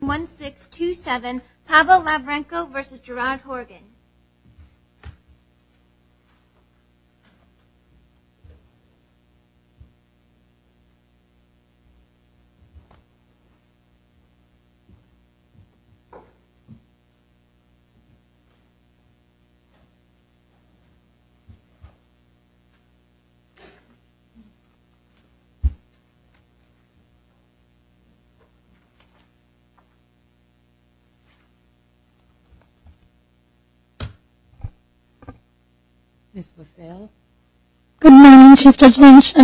1627 Pavel Lavrenko v. Gerard Horgan In 27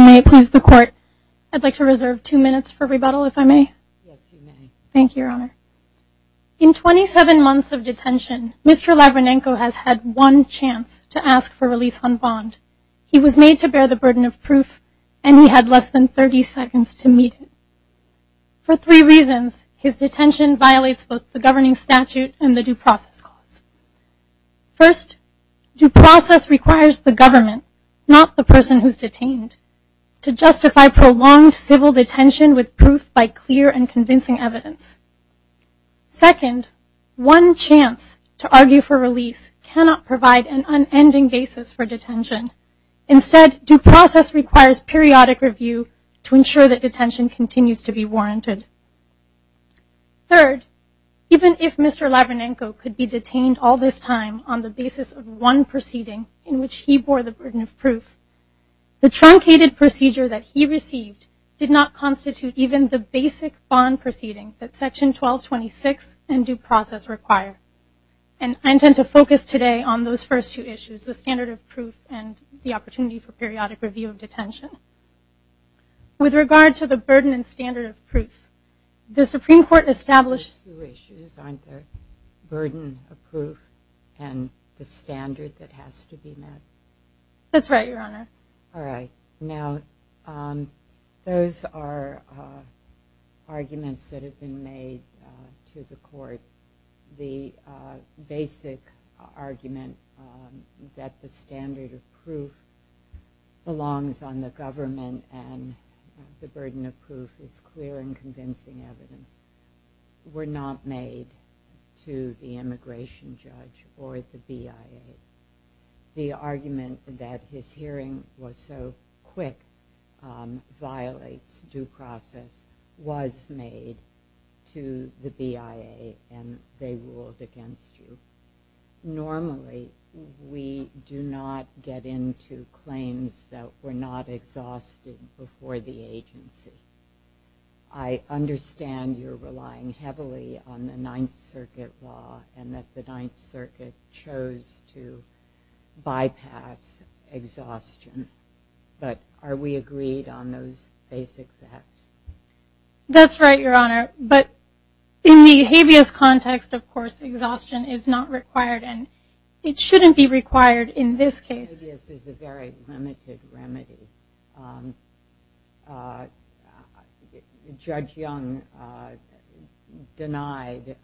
months of detention, Mr. Lavrinenko has had one chance to ask for release on bond. He was made to bear the burden of proof, and he had less than 30 seconds to meet it. For three reasons, his detention violates both the governing statute and the due process clause. First, due process requires the government, not the person who's detained, to justify prolonged civil detention with proof by clear and convincing evidence. Second, one chance to argue for release cannot provide an unending basis for detention. Instead, due process requires periodic review to ensure that detention continues to be warranted. Third, even if Mr. Lavrinenko could be detained all this time on the basis of one proceeding in which he bore the burden of proof, the truncated procedure that he received did not constitute even the basic bond proceeding that section 1226 and due process require. And I intend to focus today on those first two issues, the standard of proof and the opportunity for periodic review of detention. With regard to the burden and standard of proof, the Supreme Court established two issues, aren't there? Burden of proof and the standard that has to be met. That's right, Your Honor. All right. Now, those are arguments that have been made to the court. The basic argument that the standard of proof belongs on the government and the burden of proof is clear and convincing evidence were not made to the immigration judge or the BIA. The argument that his hearing was so quick violates due process was made to the BIA and they ruled against you. Normally, we do not get into claims that were not exhausted before the agency. I understand you're relying heavily on the Ninth Circuit law and that the Ninth Circuit chose to bypass exhaustion. But are we agreed on those basic facts? That's right, Your Honor. But in the habeas context, of course, exhaustion is not required and it shouldn't be required in this case. Habeas is a very limited remedy. Judge Young denied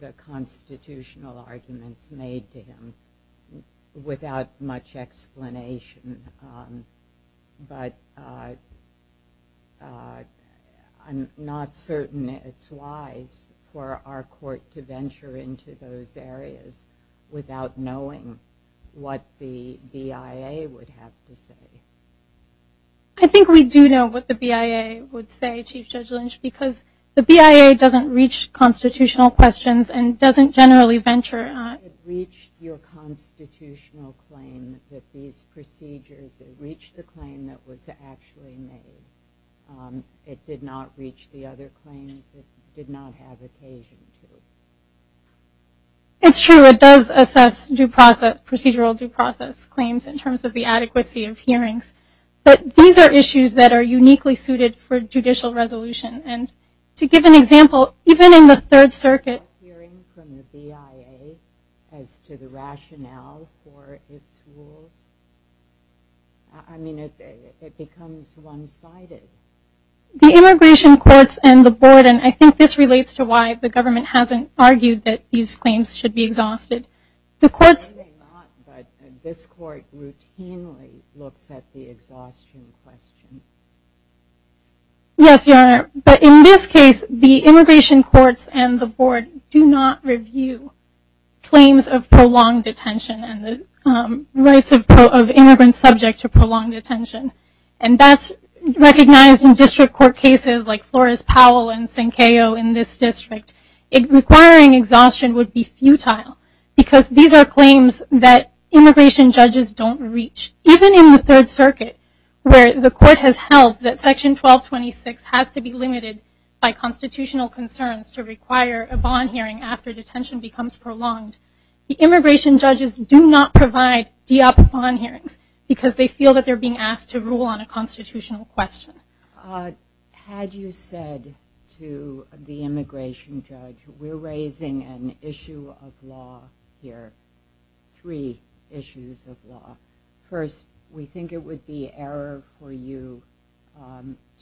the constitutional arguments made to him without much explanation. But I'm not certain it's wise for our court to venture into those areas without knowing what the BIA would have to say. I think we do know what the BIA would say, Chief Judge Lynch, because the BIA doesn't reach constitutional questions and doesn't generally venture. It reached your constitutional claim that these procedures, it reached the claim that was actually made. It did not reach the other claims it did not have occasion to. It's true, it does assess procedural due process claims in terms of the adequacy of hearings. But these are issues that are uniquely suited for judicial resolution. And to give an example, even in the Third Circuit hearing from the BIA as to the rationale for its rule, I mean, it becomes one-sided. The immigration courts and the board, and I think this relates to why the government hasn't argued that these claims should be exhausted. The courts... This court routinely looks at the exhaustion question. Yes, Your Honor. But in this case, the immigration courts and the board do not review claims of prolonged detention and the rights of immigrants subject to prolonged detention. And that's recognized in district court cases like Flores-Powell and Sankeo in this district. It requiring exhaustion would be futile because these are claims that immigration judges don't reach. Even in the Third Circuit, where the court has held that Section 1226 has to be limited by constitutional concerns to require a bond hearing after detention becomes prolonged, the immigration judges do not provide DEOP bond hearings because they feel that they're being asked to rule on a constitutional question. Had you said to the immigration judge, we're raising an issue of law here, three issues of law. First, we think it would be error for you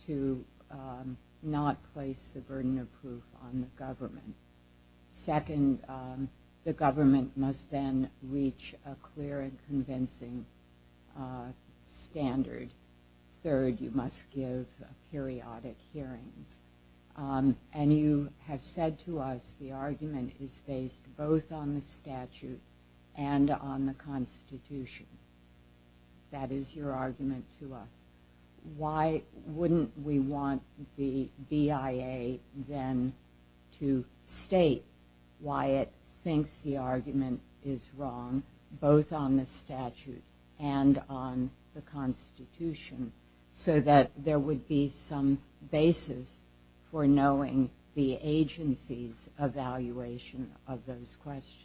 to not place the burden of proof on the government. Second, the government must then reach a clear and convincing standard. Third, you must give periodic hearings. And you have said to us the argument is based both on the statute and on the Constitution. That is your argument to us. Why wouldn't we want the BIA then to state why it thinks the argument is wrong, both on the statute and on the Constitution, so that there would be some basis for knowing the agency's evaluation of those questions?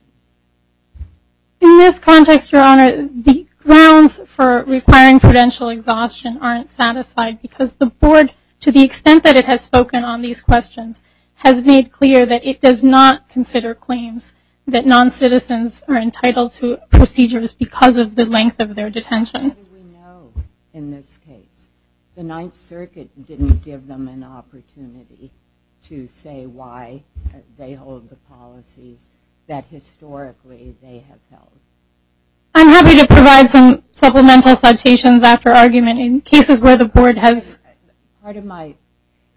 In this context, Your Honor, the grounds for requiring prudential exhaustion aren't satisfied because the board, to the extent that it has spoken on these questions, has made clear that it does not consider claims that non-citizens are entitled to procedures because of the length of their detention. How do we know in this case? The Ninth Circuit didn't give them an opportunity to say why they hold the policies that historically they have held. I'm happy to provide some supplemental citations after argument in cases where the board has...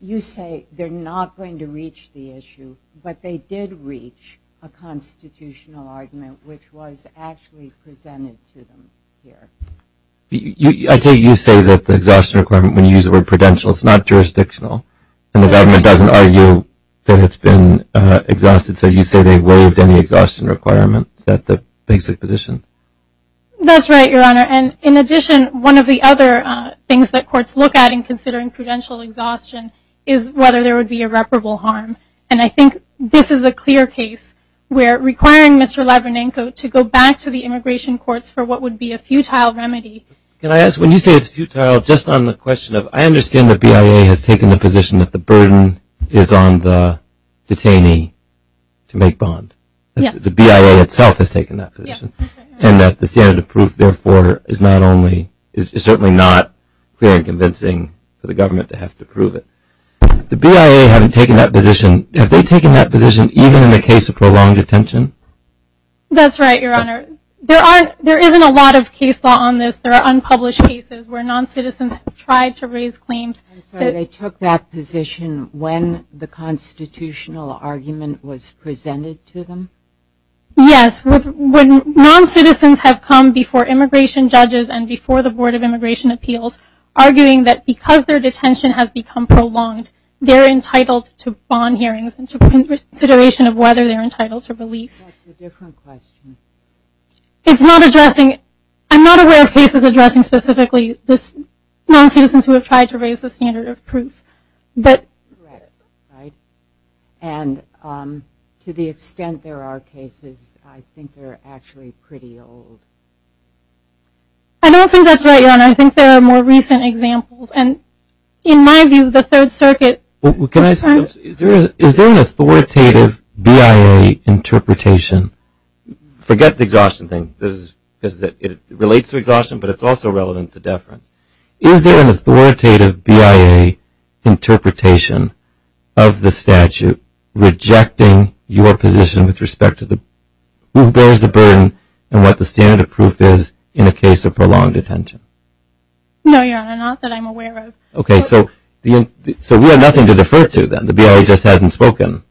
You say they're not going to reach the issue, but they did reach a constitutional argument, which was actually presented to them here. I take it you say that the exhaustion requirement, when you use the word prudential, it's not jurisdictional, and the government doesn't argue that it's been exhausted, so you say they waived any exhaustion requirements at the basic position? That's right, Your Honor, and in addition, one of the other things that courts look at in prudential exhaustion is whether there would be irreparable harm, and I think this is a clear case where requiring Mr. Levinenko to go back to the immigration courts for what would be a futile remedy... Can I ask, when you say it's futile, just on the question of, I understand the BIA has taken the position that the burden is on the detainee to make bond. The BIA itself has taken that position, and that the standard of proof, therefore, is certainly not clear and convincing for the government to have to prove it. The BIA having taken that position, have they taken that position even in the case of prolonged detention? That's right, Your Honor. There isn't a lot of case law on this. There are unpublished cases where non-citizens have tried to raise claims. I'm sorry, they took that position when the constitutional argument was presented to them? Yes, when non-citizens have come before immigration judges and before the Board of Immigration Appeals, arguing that because their detention has become prolonged, they're entitled to bond hearings and to consideration of whether they're entitled to release. That's a different question. It's not addressing... I'm not aware of cases addressing specifically non-citizens who have tried to raise the standard of proof, but... Right, and to the extent there are cases, I think they're actually pretty old. I don't think that's right, Your Honor. I think there are more recent examples, and in my view, the Third Circuit... Is there an authoritative BIA interpretation? Forget the exhaustion thing. It relates to exhaustion, but it's also relevant to deference. Is there an authoritative BIA interpretation of the statute rejecting your position with respect to who bears the burden and what the standard of proof is in a case of prolonged detention? No, Your Honor, not that I'm aware of. Okay, so we have nothing to defer to, then. The BIA just hasn't spoken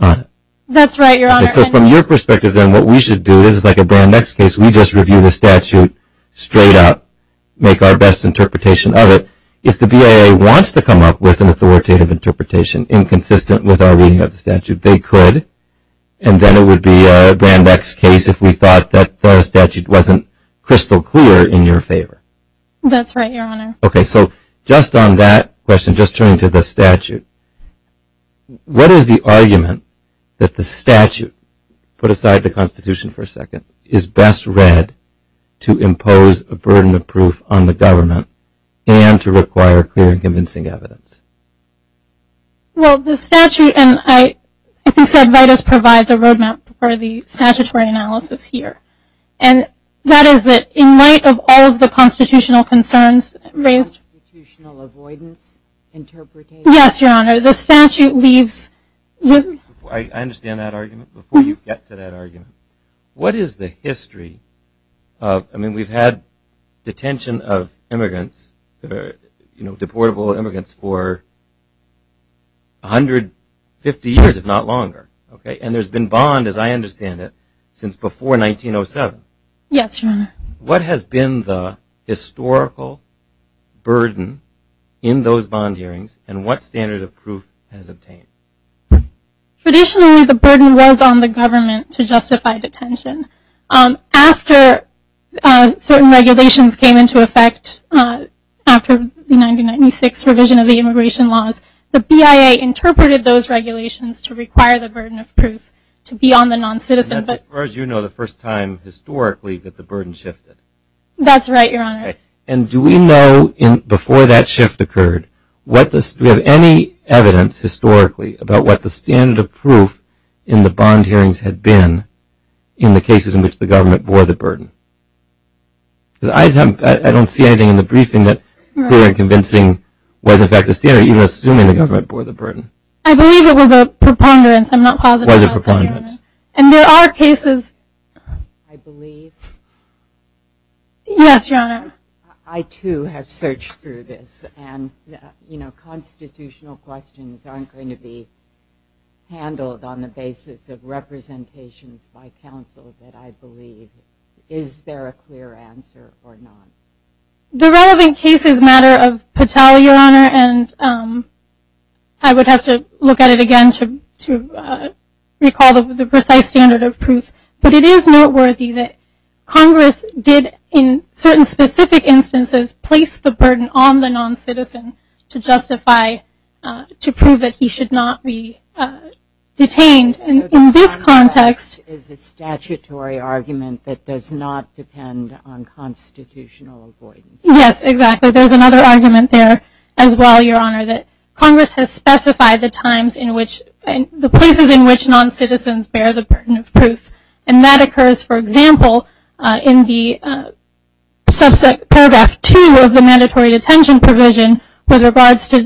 on it. That's right, Your Honor. So from your perspective, then, what we should do is, like a Brand X case, we just review the statute straight up, make our best interpretation of it. If the BIA wants to come up with an authoritative interpretation inconsistent with our reading of the statute, they could, and then it would be a Brand X case if we thought that the statute wasn't crystal clear in your favor. That's right, Your Honor. Okay, so just on that question, just turning to the statute, what is the argument that the statute, put aside the Constitution for a second, is best read to impose a burden of proof on the government and to require clear and convincing evidence? Well, the statute, and I think Sedvitis provides a roadmap for the statutory analysis here, and that is that in light of all of the constitutional concerns raised- Constitutional avoidance, interpretation. Yes, Your Honor. The statute leaves- I understand that argument. Before you get to that argument, what is the history? I mean, we've had detention of immigrants, deportable immigrants, for 150 years, if not longer, okay? And there's been bond, as I understand it, since before 1907. Yes, Your Honor. What has been the historical burden in those bond hearings, and what standard of proof has obtained? Traditionally, the burden was on the government to justify detention. After certain regulations came into effect, after the 1996 revision of the immigration laws, the BIA interpreted those regulations to require the burden of proof to be on the non-citizen, but- As far as you know, the first time historically that the burden shifted. That's right, Your Honor. And do we know, before that shift occurred, do we have any evidence, historically, about what the standard of proof in the bond hearings had been in the cases in which the government bore the burden? Because I don't see anything in the briefing that we're convincing was, in fact, the standard, even assuming the government bore the burden. I believe it was a preponderance. I'm not positive- Was a preponderance. And there are cases- I believe. Yes, Your Honor. I, too, have searched through this, and, you know, constitutional questions aren't going to be handled on the basis of representations by counsel that I believe. Is there a clear answer or not? The relevant case is a matter of Patel, Your Honor, and I would have to look at it again to recall the precise standard of proof. But it is noteworthy that Congress did, in certain specific instances, place the burden on the non-citizen to justify, to prove that he should not be detained. And in this context- Is a statutory argument that does not depend on constitutional avoidance. Yes, exactly. There's another argument there as well, Your Honor, that Congress has specified the times in which- the places in which non-citizens bear the burden of proof. And that occurs, for example, in the subset paragraph 2 of the mandatory detention provision with regards to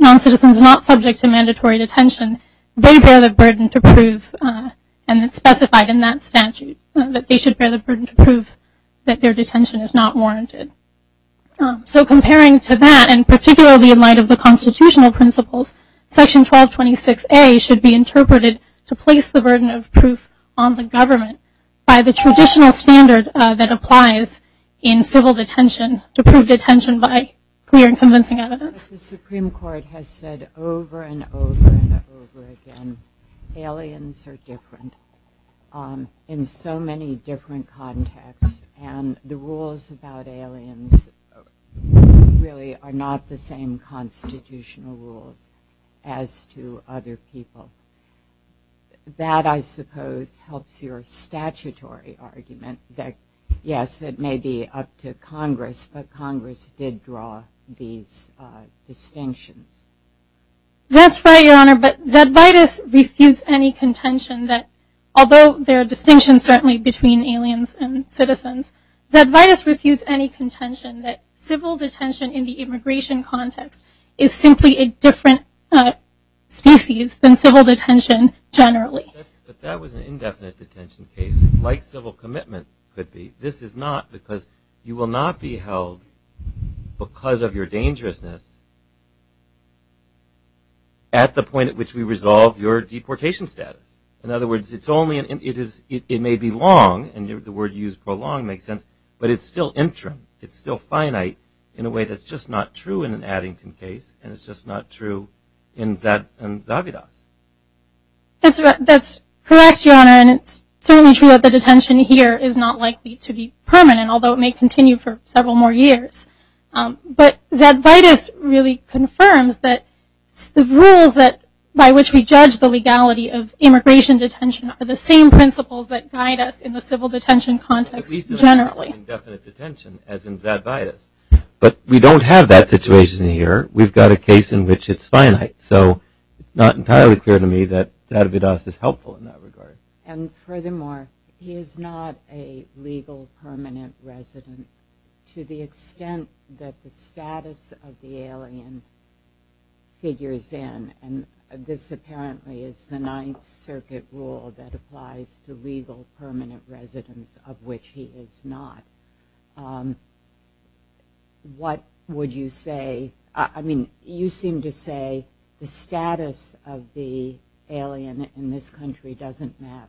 non-citizens not subject to mandatory detention. They bear the burden to prove, and it's specified in that statute, that they should bear the burden to prove that their detention is not warranted. So comparing to that, and particularly in light of the constitutional principles, section 1226A should be interpreted to place the burden of proof on the government by the traditional standard that applies in civil detention to prove detention by clear and convincing evidence. The Supreme Court has said over and over and over again, aliens are different in so many different contexts, and the rules about aliens really are not the same constitutional rules as to other people. That, I suppose, helps your statutory argument that, yes, that may be up to Congress, but Congress did draw these distinctions. That's right, Your Honor, but Zedvitas refutes any contention that, although there are distinctions certainly between aliens and citizens, Zedvitas refutes any contention that civil detention in the immigration context is simply a different species than civil detention generally. But that was an indefinite detention case, like civil commitment could be. This is not, because you will not be held, because of your dangerousness, at the point at which we resolve your deportation status. In other words, it may be long, and the word you used, prolonged, makes sense, but it's still interim. It's still finite in a way that's just not true in an Addington case, and it's just not true in Zed and Zavitas. That's correct, Your Honor, and it's certainly true that the detention here is not likely to be permanent, although it may continue for several more years. But Zedvitas really confirms that the rules by which we judge the legality of immigration detention are the same principles that guide us in the civil detention context generally. At least it's not an indefinite detention, as in Zedvitas. But we don't have that situation here. We've got a case in which it's finite, so it's not entirely clear to me that Zedvitas is helpful in that regard. And furthermore, he is not a legal permanent resident to the extent that the status of the alien figures in, and this apparently is the Ninth Circuit rule that applies to legal permanent residents, of which he is not. What would you say, I mean, you seem to say the status of the alien in this country doesn't matter.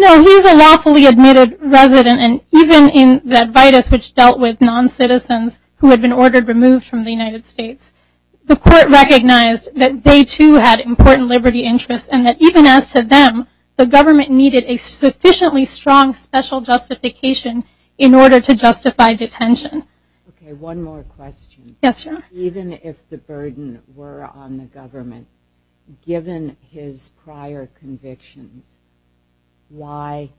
No, he's a lawfully admitted resident, and even in Zedvitas, which dealt with non-citizens who had been ordered removed from the United States, the court recognized that they too had important liberty interests, and that even as to them, the government needed a sufficiently strong special justification in order to justify detention. Okay, one more question. Yes, your honor. Even if the burden were on the government, given his prior convictions, why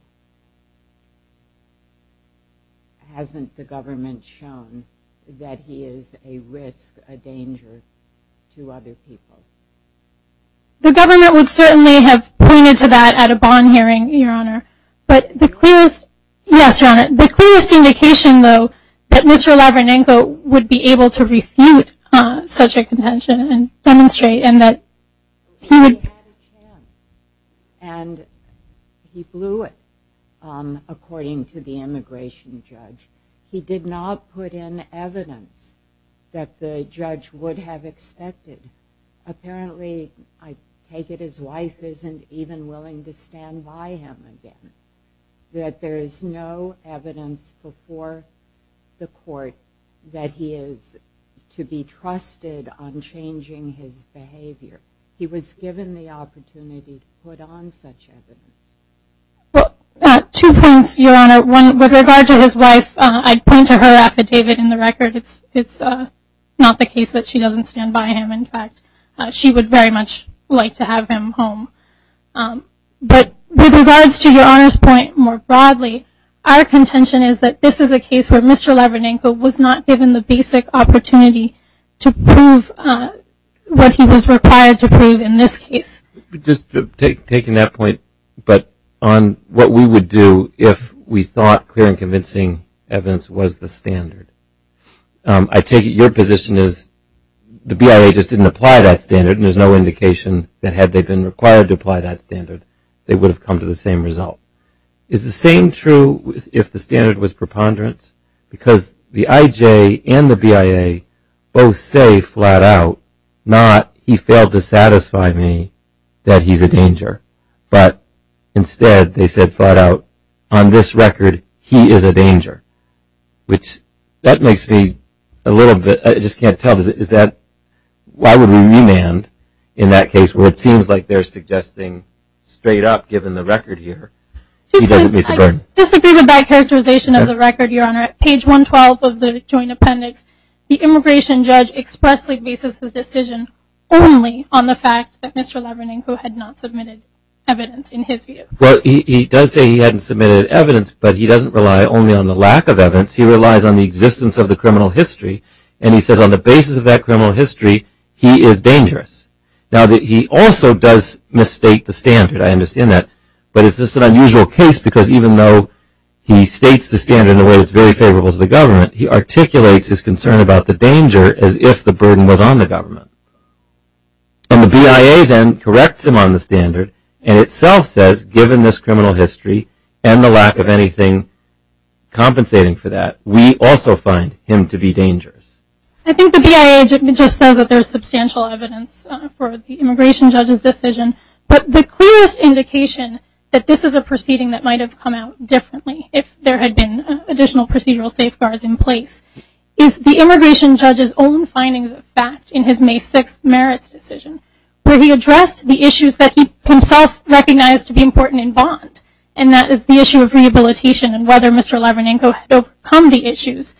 hasn't the government shown that he is a risk, a danger to other people? The government would certainly have pointed to that at a bond hearing, your honor, but the clearest, yes, your honor, the clearest indication, though, that Mr. Lavranenko would be able to refute such a contention and demonstrate, and that he would- He had a chance, and he blew it, according to the immigration judge. He did not put in evidence that the judge would have expected apparently, I take it his wife isn't even willing to stand by him again, that there is no evidence before the court that he is to be trusted on changing his behavior. He was given the opportunity to put on such evidence. Well, two points, your honor. One, with regard to his wife, I'd point to her affidavit in the record. It's not the case that she doesn't stand by him, in fact, she would very much like to have him home, but with regards to your honor's point more broadly, our contention is that this is a case where Mr. Lavranenko was not given the basic opportunity to prove what he was required to prove in this case. Just taking that point, but on what we would do if we thought clear and convincing evidence was the standard. I take it your position is the BIA just didn't apply that standard, and there's no indication that had they been required to apply that standard, they would have come to the same result. Is the same true if the standard was preponderance? Because the IJ and the BIA both say flat out, not he failed to satisfy me that he's a danger, but instead they said flat out, on this record, he is a danger, which that makes me a little bit, I just can't tell, is that, why would we remand in that case where it seems like they're suggesting straight up given the record here, he doesn't meet the burden. I disagree with that characterization of the record, your honor. At page 112 of the joint appendix, the immigration judge expressly bases his decision only on the fact that Mr. Lavranenko had not submitted evidence in his view. Well, he does say he hadn't submitted evidence, but he doesn't rely only on the lack of evidence, he relies on the existence of the criminal history, and he says on the basis of that criminal history, he is dangerous. Now that he also does misstate the standard, I understand that, but it's just an unusual case because even though he states the standard in a way that's very favorable to the government, he articulates his concern about the danger as if the burden was on the government. And the BIA then corrects him on the standard, and itself says, given this criminal history and the lack of anything compensating for that, we also find him to be dangerous. I think the BIA just says that there's substantial evidence for the immigration judge's decision, but the clearest indication that this is a proceeding that might have come out differently, if there had been additional procedural safeguards in place, is the immigration judge's own findings of fact in his May 6th merits decision, where he addressed the issues that he himself recognized to be important in bond, and that is the issue of rehabilitation, and whether Mr. Lavranenko had overcome the issues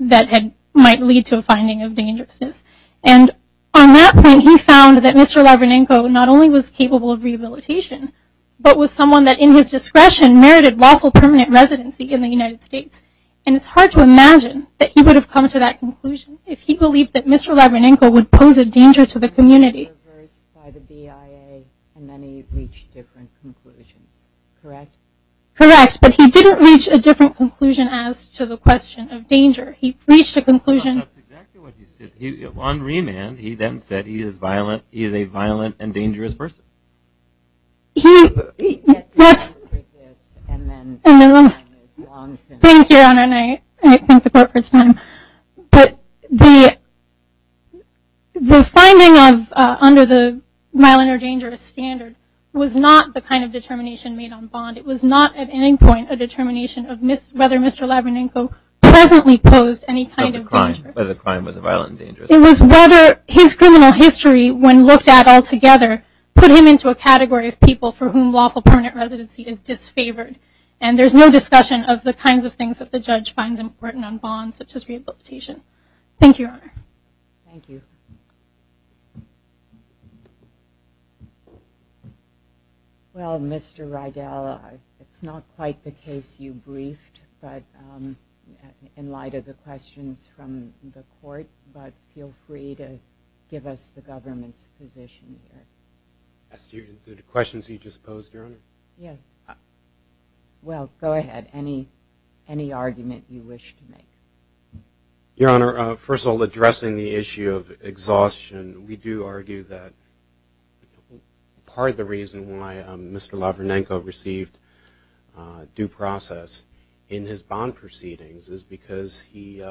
that had might lead to a finding of dangerousness. And on that point, he found that Mr. Lavranenko not only was capable of rehabilitation, but was someone that in his discretion merited lawful permanent residency in the United States. And it's hard to imagine that he would have come to that conclusion if he believed that Mr. Lavranenko would pose a danger to the community. Correct, but he didn't reach a different conclusion as to the question of danger, he reached a conclusion... On remand, he then said he is a violent and dangerous person. He, that's, thank you Anna, and I thank the court for its time, but the the finding of, under the violent or dangerous standard, was not the kind of determination made on bond, it was not at any point a determination of whether Mr. Lavranenko presently posed any kind of danger. Whether the crime was a violent danger. It was whether his criminal history, when looked at all together, put him into a category of people for whom lawful permanent residency is disfavored. And there's no discussion of the kinds of things that the judge finds important on bonds, such as rehabilitation. Thank you, your honor. Thank you. Well, Mr. Rydell, it's not quite the case you briefed, but in light of the questions from the court, but feel free to give us the government's position here. As to the questions you just posed, your honor? Yes. Well, go ahead, any argument you wish to make. Your honor, first of all, addressing the issue of exhaustion, we do argue that part of the reason why Mr. Lavranenko received due process in his bond proceedings is because he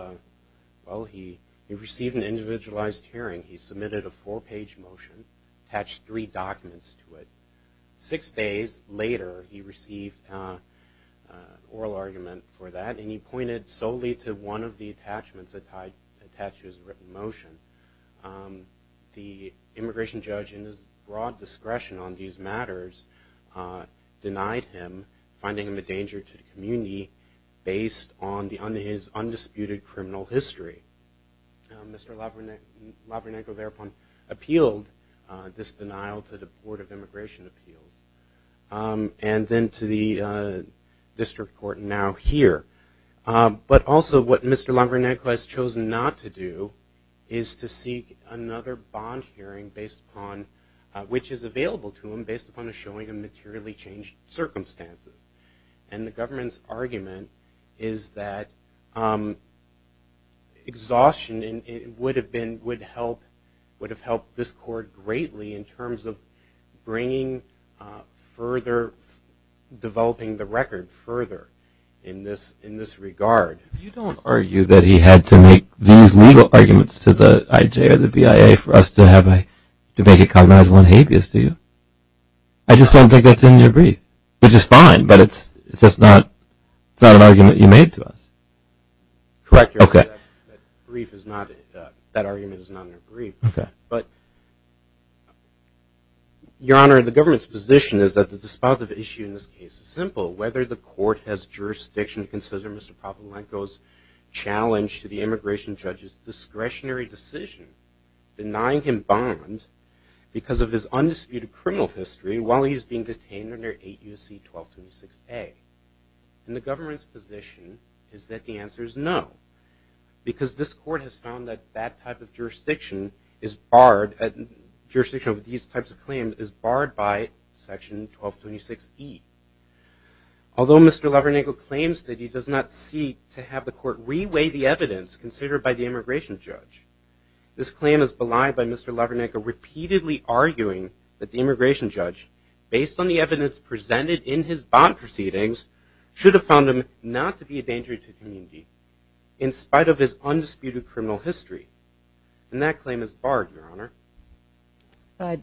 received an individualized hearing. He submitted a four-page motion, attached three documents to it. Six days later, he received an oral argument for that, and he pointed solely to one of the attachments attached to his written motion. The immigration judge, in his broad discretion on these matters, denied him, finding him a danger to the community, based on his undisputed criminal history. Mr. Lavranenko thereupon appealed this denial to the Board of Immigration Appeals, and then to the district court now here. But also, what Mr. Lavranenko has chosen not to do is to seek another bond hearing, which is available to him, based upon a showing of exhaustion, and it would have been, would help, would have helped this court greatly in terms of bringing further, developing the record further in this regard. You don't argue that he had to make these legal arguments to the IJ or the BIA for us to have a, to make it cognizable and habeas to you? I just don't think that's in your brief, which is fine, but it's just not, it's not an correction. Okay. That brief is not, that argument is not in the brief. Okay. But Your Honor, the government's position is that the dispositive issue in this case is simple. Whether the court has jurisdiction to consider Mr. Lavranenko's challenge to the immigration judge's discretionary decision, denying him bond because of his undisputed criminal history, while he is being detained under 8 U.C. 1226A. And the government's position is that the answer is no, because this court has found that that type of jurisdiction is barred, jurisdiction of these types of claims is barred by section 1226E. Although Mr. Lavranenko claims that he does not seek to have the court reweigh the evidence considered by the immigration judge, this claim is belied by Mr. Lavranenko repeatedly arguing that the immigration judge, based on the evidence presented in his bond proceedings, should have found him not to be a danger to the community, in spite of his undisputed criminal history. And that claim is barred, Your Honor. But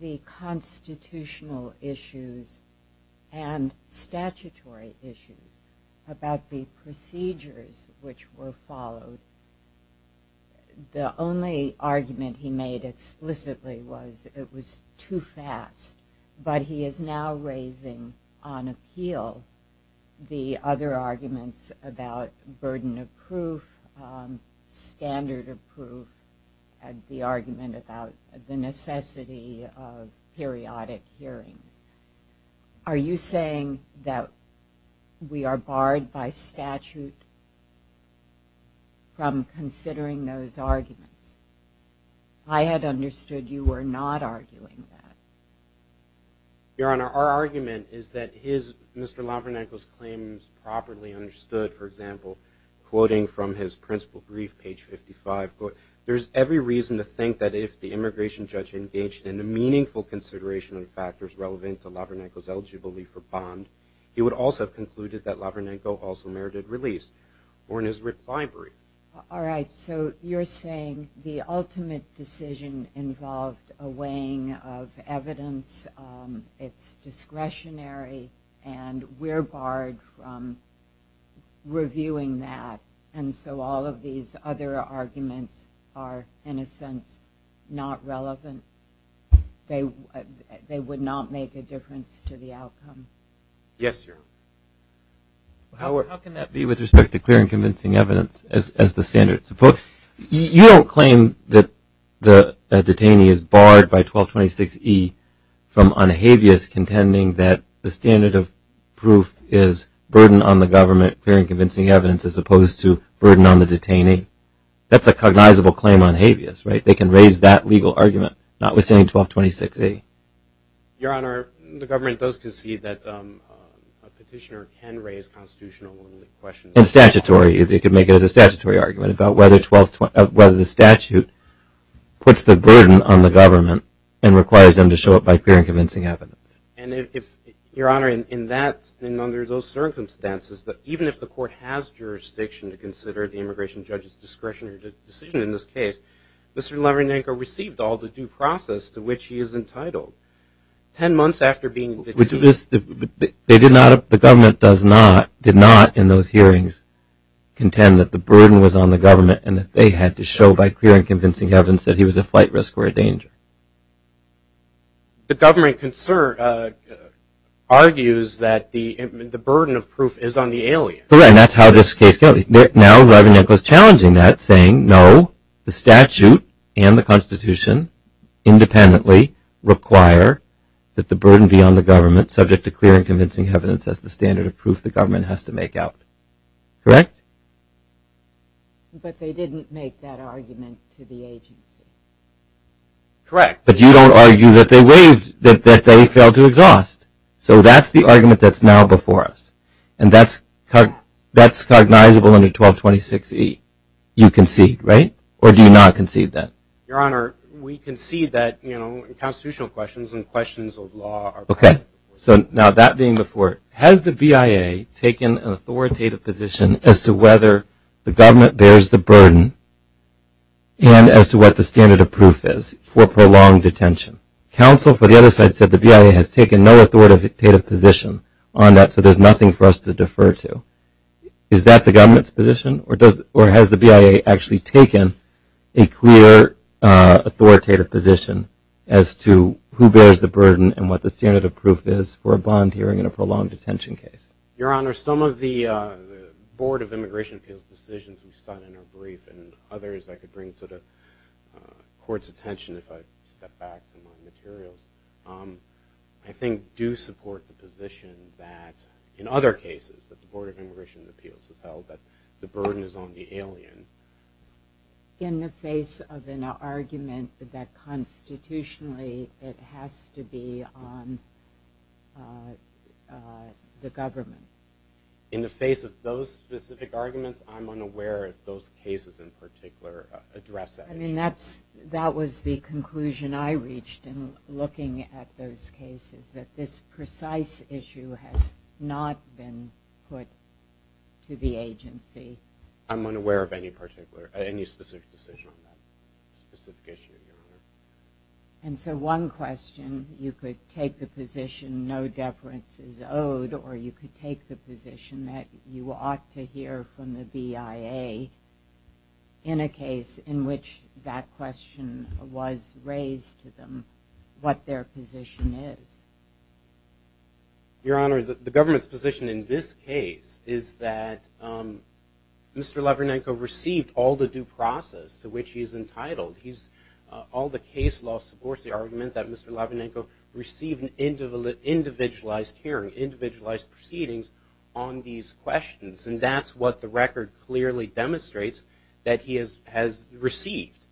the constitutional issues and statutory issues about the procedures which were followed, the only argument he made explicitly was it was too fast. But he is now raising on appeal the other arguments about burden of proof, standard of proof, and the argument about the necessity of periodic hearings. Are you saying that we are barred by statute from considering those arguments? I had understood you were not arguing that. Your Honor, our argument is that his, Mr. Lavranenko's claims properly understood, for example, quoting from his principal brief, page 55, quote, there's every reason to think that if the immigration judge engaged in a meaningful consideration of factors relevant to Lavranenko's eligibility for bond, he would also have concluded that Lavranenko also merited release, or in his refinery. All right, so you're saying the ultimate decision involved a weighing of evidence, it's discretionary, and we're barred from reviewing that. And so all of these other arguments are, in a sense, not relevant. They would not make a difference to the outcome. Yes, Your Honor. How can that be with respect to clear and convincing evidence as the standard? You don't claim that a detainee is barred by 1226E from on habeas contending that the standard of proof is burden on the government, clear and convincing evidence, as opposed to burden on the detainee. That's a cognizable claim on habeas, right? They can raise that legal argument, not withstanding 1226E. Your Honor, the government does concede that a petitioner can raise constitutional questions. And statutory. They could make it as a statutory argument about whether the statute puts the burden on the government and requires them to show up by clear and convincing evidence. And if, Your Honor, in that, and under those circumstances, that even if the court has jurisdiction to consider the immigration judge's discretionary decision in this case, Mr. Levenenko received all the due process to which he is entitled. 10 months after being detained. The government did not, in those hearings, contend that the burden was on the government and that they had to show by clear and convincing evidence that he was a flight risk or a danger. The government argues that the burden of proof is on the alien. That's how this case Now, Levenenko is challenging that, saying, no, the statute and the Constitution independently require that the burden be on the government, subject to clear and convincing evidence as the standard of proof the government has to make out. Correct? But they didn't make that argument to the agency. Correct. But you don't argue that they failed to exhaust. So that's the argument that's before us. And that's cognizable under 1226E. You concede, right? Or do you not concede that? Your Honor, we concede that, you know, in constitutional questions and questions of law. Okay. So now that being before, has the BIA taken an authoritative position as to whether the government bears the burden and as to what the standard of proof is for prolonged detention? Counsel, for the other side, said the BIA has taken no authoritative position on that. So there's nothing for us to defer to. Is that the government's position? Or has the BIA actually taken a clear authoritative position as to who bears the burden and what the standard of proof is for a bond hearing in a prolonged detention case? Your Honor, some of the Board of Immigration Appeals decisions we've sought in our brief and others I could bring to the Court's attention if I step back from my materials, I think do support the position that, in other cases, that the Board of Immigration Appeals has held that the burden is on the alien. In the face of an argument that constitutionally it has to be on the government? In the face of those specific arguments, I'm unaware if those cases in reached in looking at those cases, that this precise issue has not been put to the agency. I'm unaware of any particular, any specific decision on that. And so one question, you could take the position no deference is owed, or you could take the position that you ought to hear from the BIA in a case in which that question was raised to them, what their position is. Your Honor, the government's position in this case is that Mr. Lavrinenko received all the due process to which he is entitled. All the case law supports the argument that Mr. Lavrinenko received an individualized hearing, individualized proceedings on these questions. And that's what the record clearly demonstrates that he has received.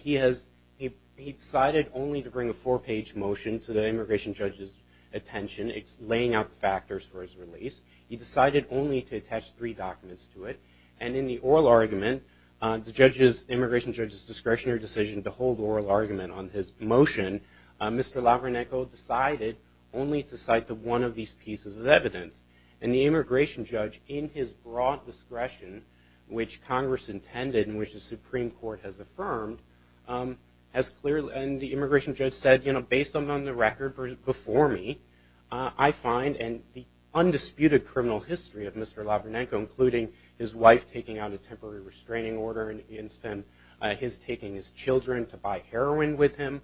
He has, he decided only to bring a four-page motion to the immigration judge's attention, laying out the factors for his release. He decided only to attach three documents to it. And in the oral argument, the judge's, immigration judge's discretionary decision to hold oral argument on his motion, Mr. Lavrinenko decided only to cite to one of these pieces of evidence. And the immigration judge, in his broad discretion, which Congress intended and which the Supreme Court has affirmed, has clearly, and the immigration judge said, you know, based on the record before me, I find in the undisputed criminal history of Mr. Lavrinenko, including his wife taking out a temporary restraining order, and his taking his children to buy heroin with him,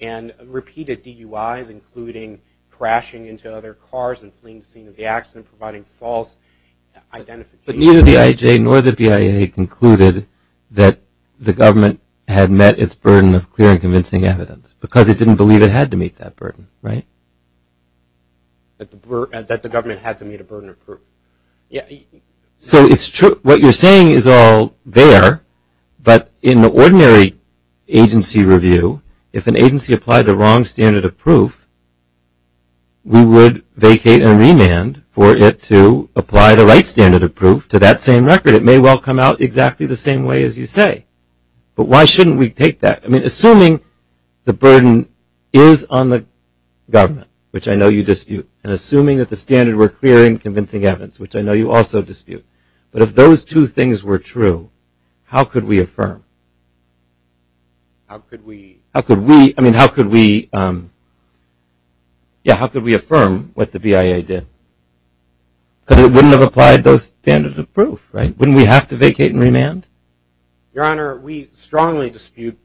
and repeated DUIs, including crashing into other cars and fleeing the scene of the accident, providing false identification. But neither the IAJ nor the BIA concluded that the government had met its burden of clear and convincing evidence, because it didn't believe it had to meet that burden, right? That the government had to meet a burden of proof. Yeah. So it's true, what you're saying is all there, but in the ordinary agency review, if an agency applied the wrong standard of proof, we would vacate and remand for it to apply the right standard of proof to that same record. It may well come out exactly the same way as you say. But why shouldn't we take that? I mean, assuming the burden is on the government, which I know you dispute, and assuming that the standard were clear and convincing evidence, which I know you also dispute. But if those two things were true, how could we affirm? How could we? How could we, I mean, how could we, yeah, how could we affirm what the BIA did? Because it wouldn't have applied those standards of proof, right? Wouldn't we have to vacate and remand? Your Honor, we strongly dispute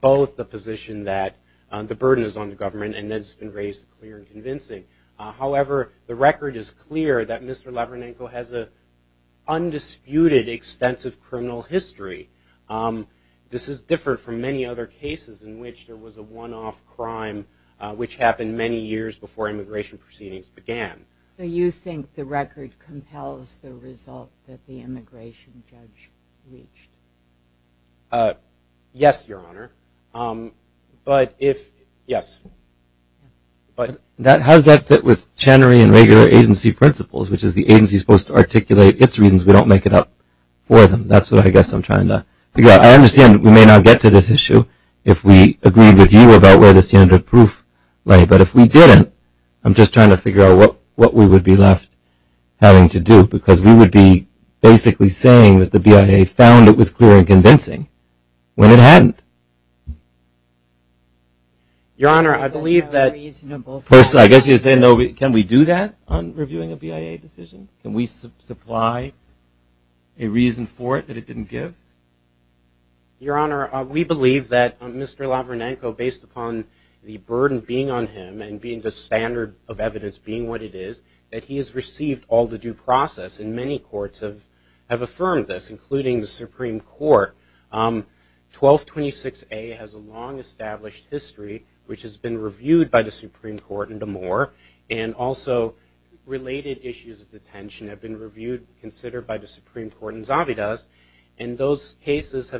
both the position that the burden is on the government, and that it's been raised clear and convincing. However, the record is clear that Mr. Lavranenko has an undisputed extensive criminal history. This is different from many other cases in which there was a one-off crime, which happened many years before immigration proceedings began. So you think the record compels the result that the immigration judge reached? Yes, Your Honor. But if, yes. But that, how does that fit with Channery and regular agency principles, which is the agency's supposed to articulate its reasons we don't make it up for them? That's what I guess I'm trying to figure out. I understand we may not get to this issue if we agreed with you about where the standard of proof lay. But if we didn't, I'm just trying to figure out what we would be left having to do. Because we would be basically saying that the BIA found it was clear and convincing, when it hadn't. Your Honor, I believe that, I guess you're saying can we do that on reviewing a BIA decision? Can we supply a reason for it that it didn't give? Your Honor, we believe that Mr. Lavranenko, based upon the burden being on him and being the standard of evidence being what it is, that he has received all the due process. And many courts have affirmed this, including the 1226A has a long established history, which has been reviewed by the Supreme Court in Damore. And also related issues of detention have been reviewed, considered by the Supreme Court in Zavidas. And those cases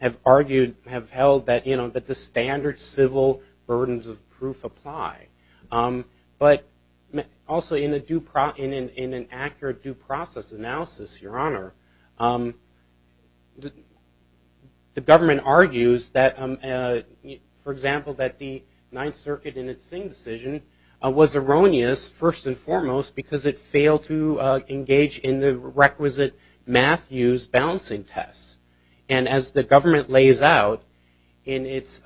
have argued, have held that the standard civil burdens of proof apply. But also in an accurate due process analysis, Your Honor, the government argues that, for example, that the Ninth Circuit in its Singh decision was erroneous, first and foremost, because it failed to engage in the requisite math use balancing tests. And as the government lays out in its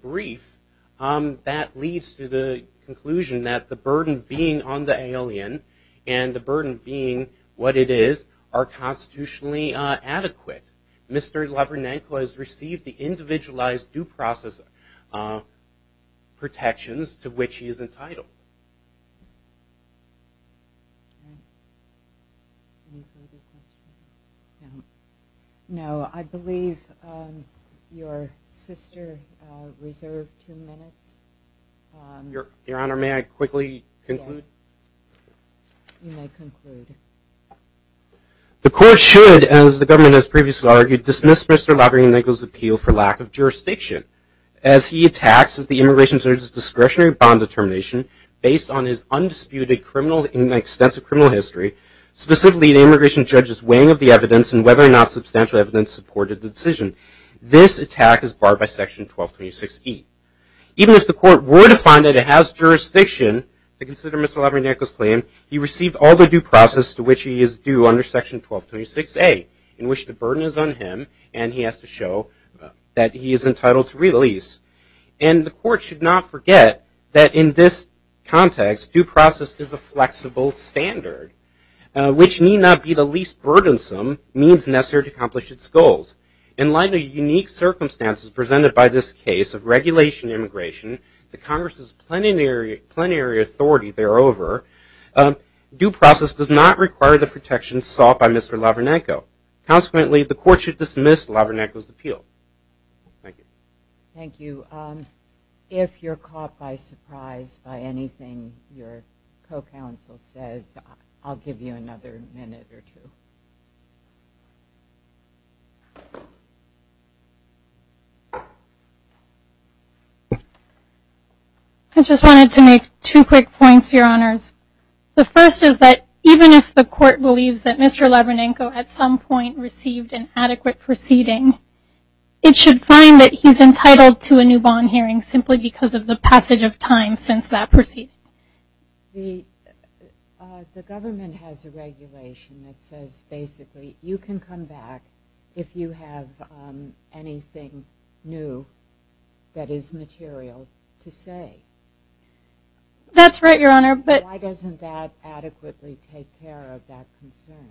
brief, that leads to the conclusion that the burden being on the alien, and the burden being what it is, are constitutionally adequate. Mr. Lavranenko has received the individualized due process protections to which he is entitled. No, I believe your sister reserved two minutes. Your Honor, may I quickly conclude? You may conclude. The court should, as the government has previously argued, dismiss Mr. Lavranenko's appeal for lack of jurisdiction. As he attacks the immigration judge's discretionary bond determination based on his undisputed criminal, extensive criminal history, specifically the immigration judge's weighing of the evidence and whether or not substantial evidence supported the decision. This attack is barred by section 1226E. Even if the court were to find that it jurisdiction to consider Mr. Lavranenko's claim, he received all the due process to which he is due under section 1226A, in which the burden is on him, and he has to show that he is entitled to release. And the court should not forget that in this context, due process is a flexible standard, which need not be the least burdensome means necessary to accomplish its goals. In light of unique circumstances presented by this case of regulation immigration, the Congress's plenary authority thereover, due process does not require the protection sought by Mr. Lavranenko. Consequently, the court should dismiss Lavranenko's appeal. Thank you. Thank you. If you're caught by surprise by anything your co-counsel says, I'll give you another minute or two. I just wanted to make two quick points, your honors. The first is that even if the court believes that Mr. Lavranenko at some point received an adequate proceeding, it should find that he's entitled to a new bond hearing simply because of the passage of time since that proceeding. The government has a regulation that says basically you can come back if you have anything new that is material to say. That's right, your honor. But why doesn't that adequately take care of that concern?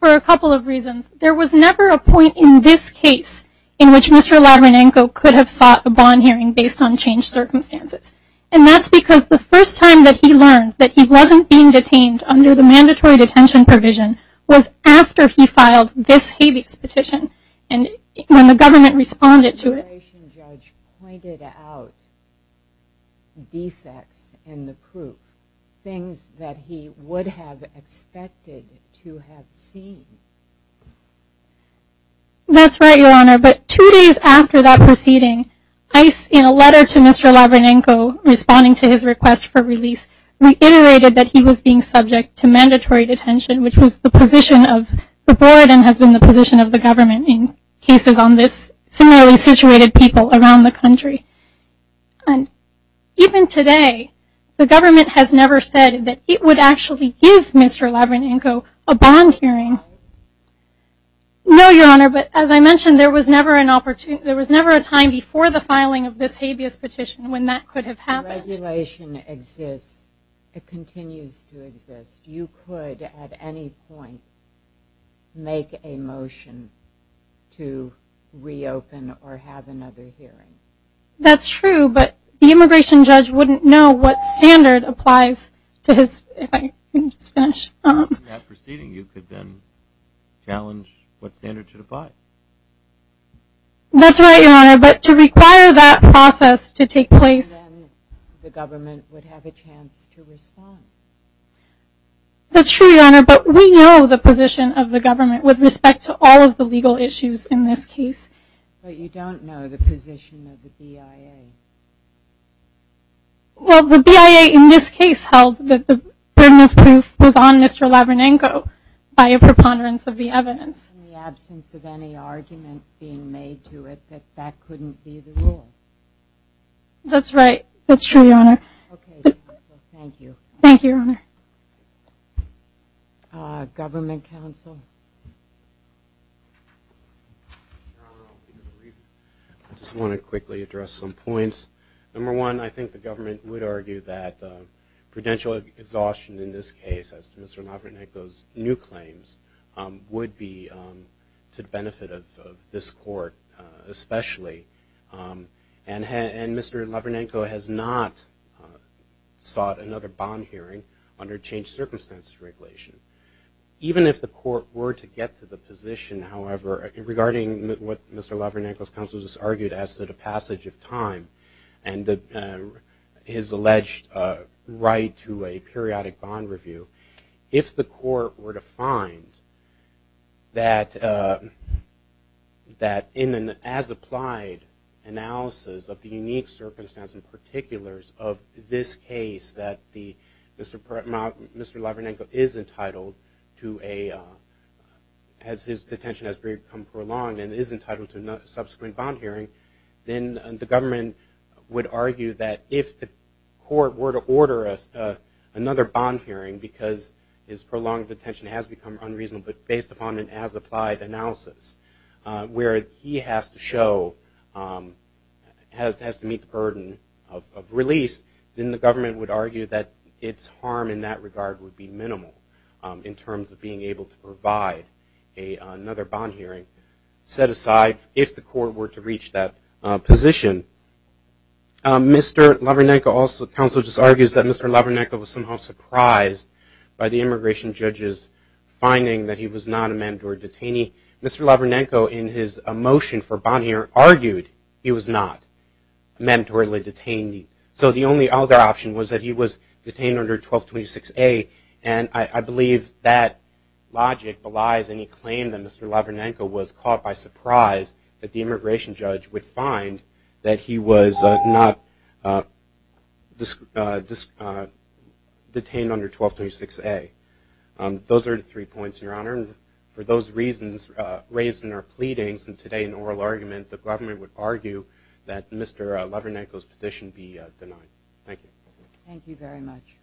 For a couple of reasons. There was never a point in this case in which Mr. Lavranenko could have sought a bond hearing based on changed circumstances. And that's because the first time that he learned that he wasn't being detained under the mandatory detention provision was after he filed this habeas petition and when the government responded to it. The adjudication judge pointed out defects in the proof, things that he would have expected to have seen. That's right, your honor. But two days after that proceeding, in a letter to Mr. Lavranenko responding to his request for release, reiterated that he was being subject to mandatory detention which was the position of the board and has been the position of the government in cases on this similarly situated people around the country. And even today the government has never said that it would actually give Mr. Lavranenko a bond hearing. No, your honor, but as I mentioned there was never an opportunity, there was never a time before the filing of this habeas petition when that could have happened. The regulation exists, it continues to exist. You could at any point make a motion to reopen or have another hearing. That's true, but the immigration judge wouldn't know what standard applies to his, if I can just finish, that proceeding you could then challenge what standard should apply. That's right, your honor, but to require that process to take place, the government would have a chance to respond. That's true, your honor, but we know the position of the government with respect to all of the legal issues in this case. But you don't know the position of the BIA. Well, the BIA in this case held that the burden of proof was on Mr. Lavranenko by a preponderance of the evidence. In the absence of any argument being made to it, that couldn't be the rule. That's right, that's true, your honor. Okay, thank you. Thank you, your honor. Government counsel. I just want to quickly address some points. Number one, I think the government would argue that prudential exhaustion in this case as to Mr. Lavranenko's new claims would be to the benefit of this court especially. And Mr. Lavranenko has not sought another bond hearing under changed circumstances regulation. Even if the court were to get to the position, however, regarding what Mr. Lavranenko's counsel just argued as to the passage of time and his alleged right to a periodic bond review, if the court were to find that in an as-applied analysis of the unique circumstance and particulars of this case that Mr. Lavranenko is entitled to a, as his detention has been prolonged and is entitled to a subsequent bond hearing, then the government would argue that if the court were to order another bond hearing because his prolonged detention has become unreasonable, but based upon an as-applied analysis where he has to show, has to meet the burden of release, then the government would argue that its harm in that regard would be minimal in terms of being able to provide another bond hearing. Set aside, if the court were to reach that position, Mr. Lavranenko also, counsel just argues that Mr. Lavranenko was somehow surprised by the immigration judge's finding that he was not a mandatory detainee. Mr. Lavranenko in his motion for bond hearing argued he was not mandatorily detained. So the only other option was that he was detained under 1226A and I believe that logic belies any claim that Mr. Lavranenko was caught by surprise that the immigration judge would find that he was not detained under 1226A. Those are the three points, Your Honor, and for those reasons raised in our pleadings and today in oral argument, the government would argue that Mr. Lavranenko's position be denied. Thank you. Thank you very much.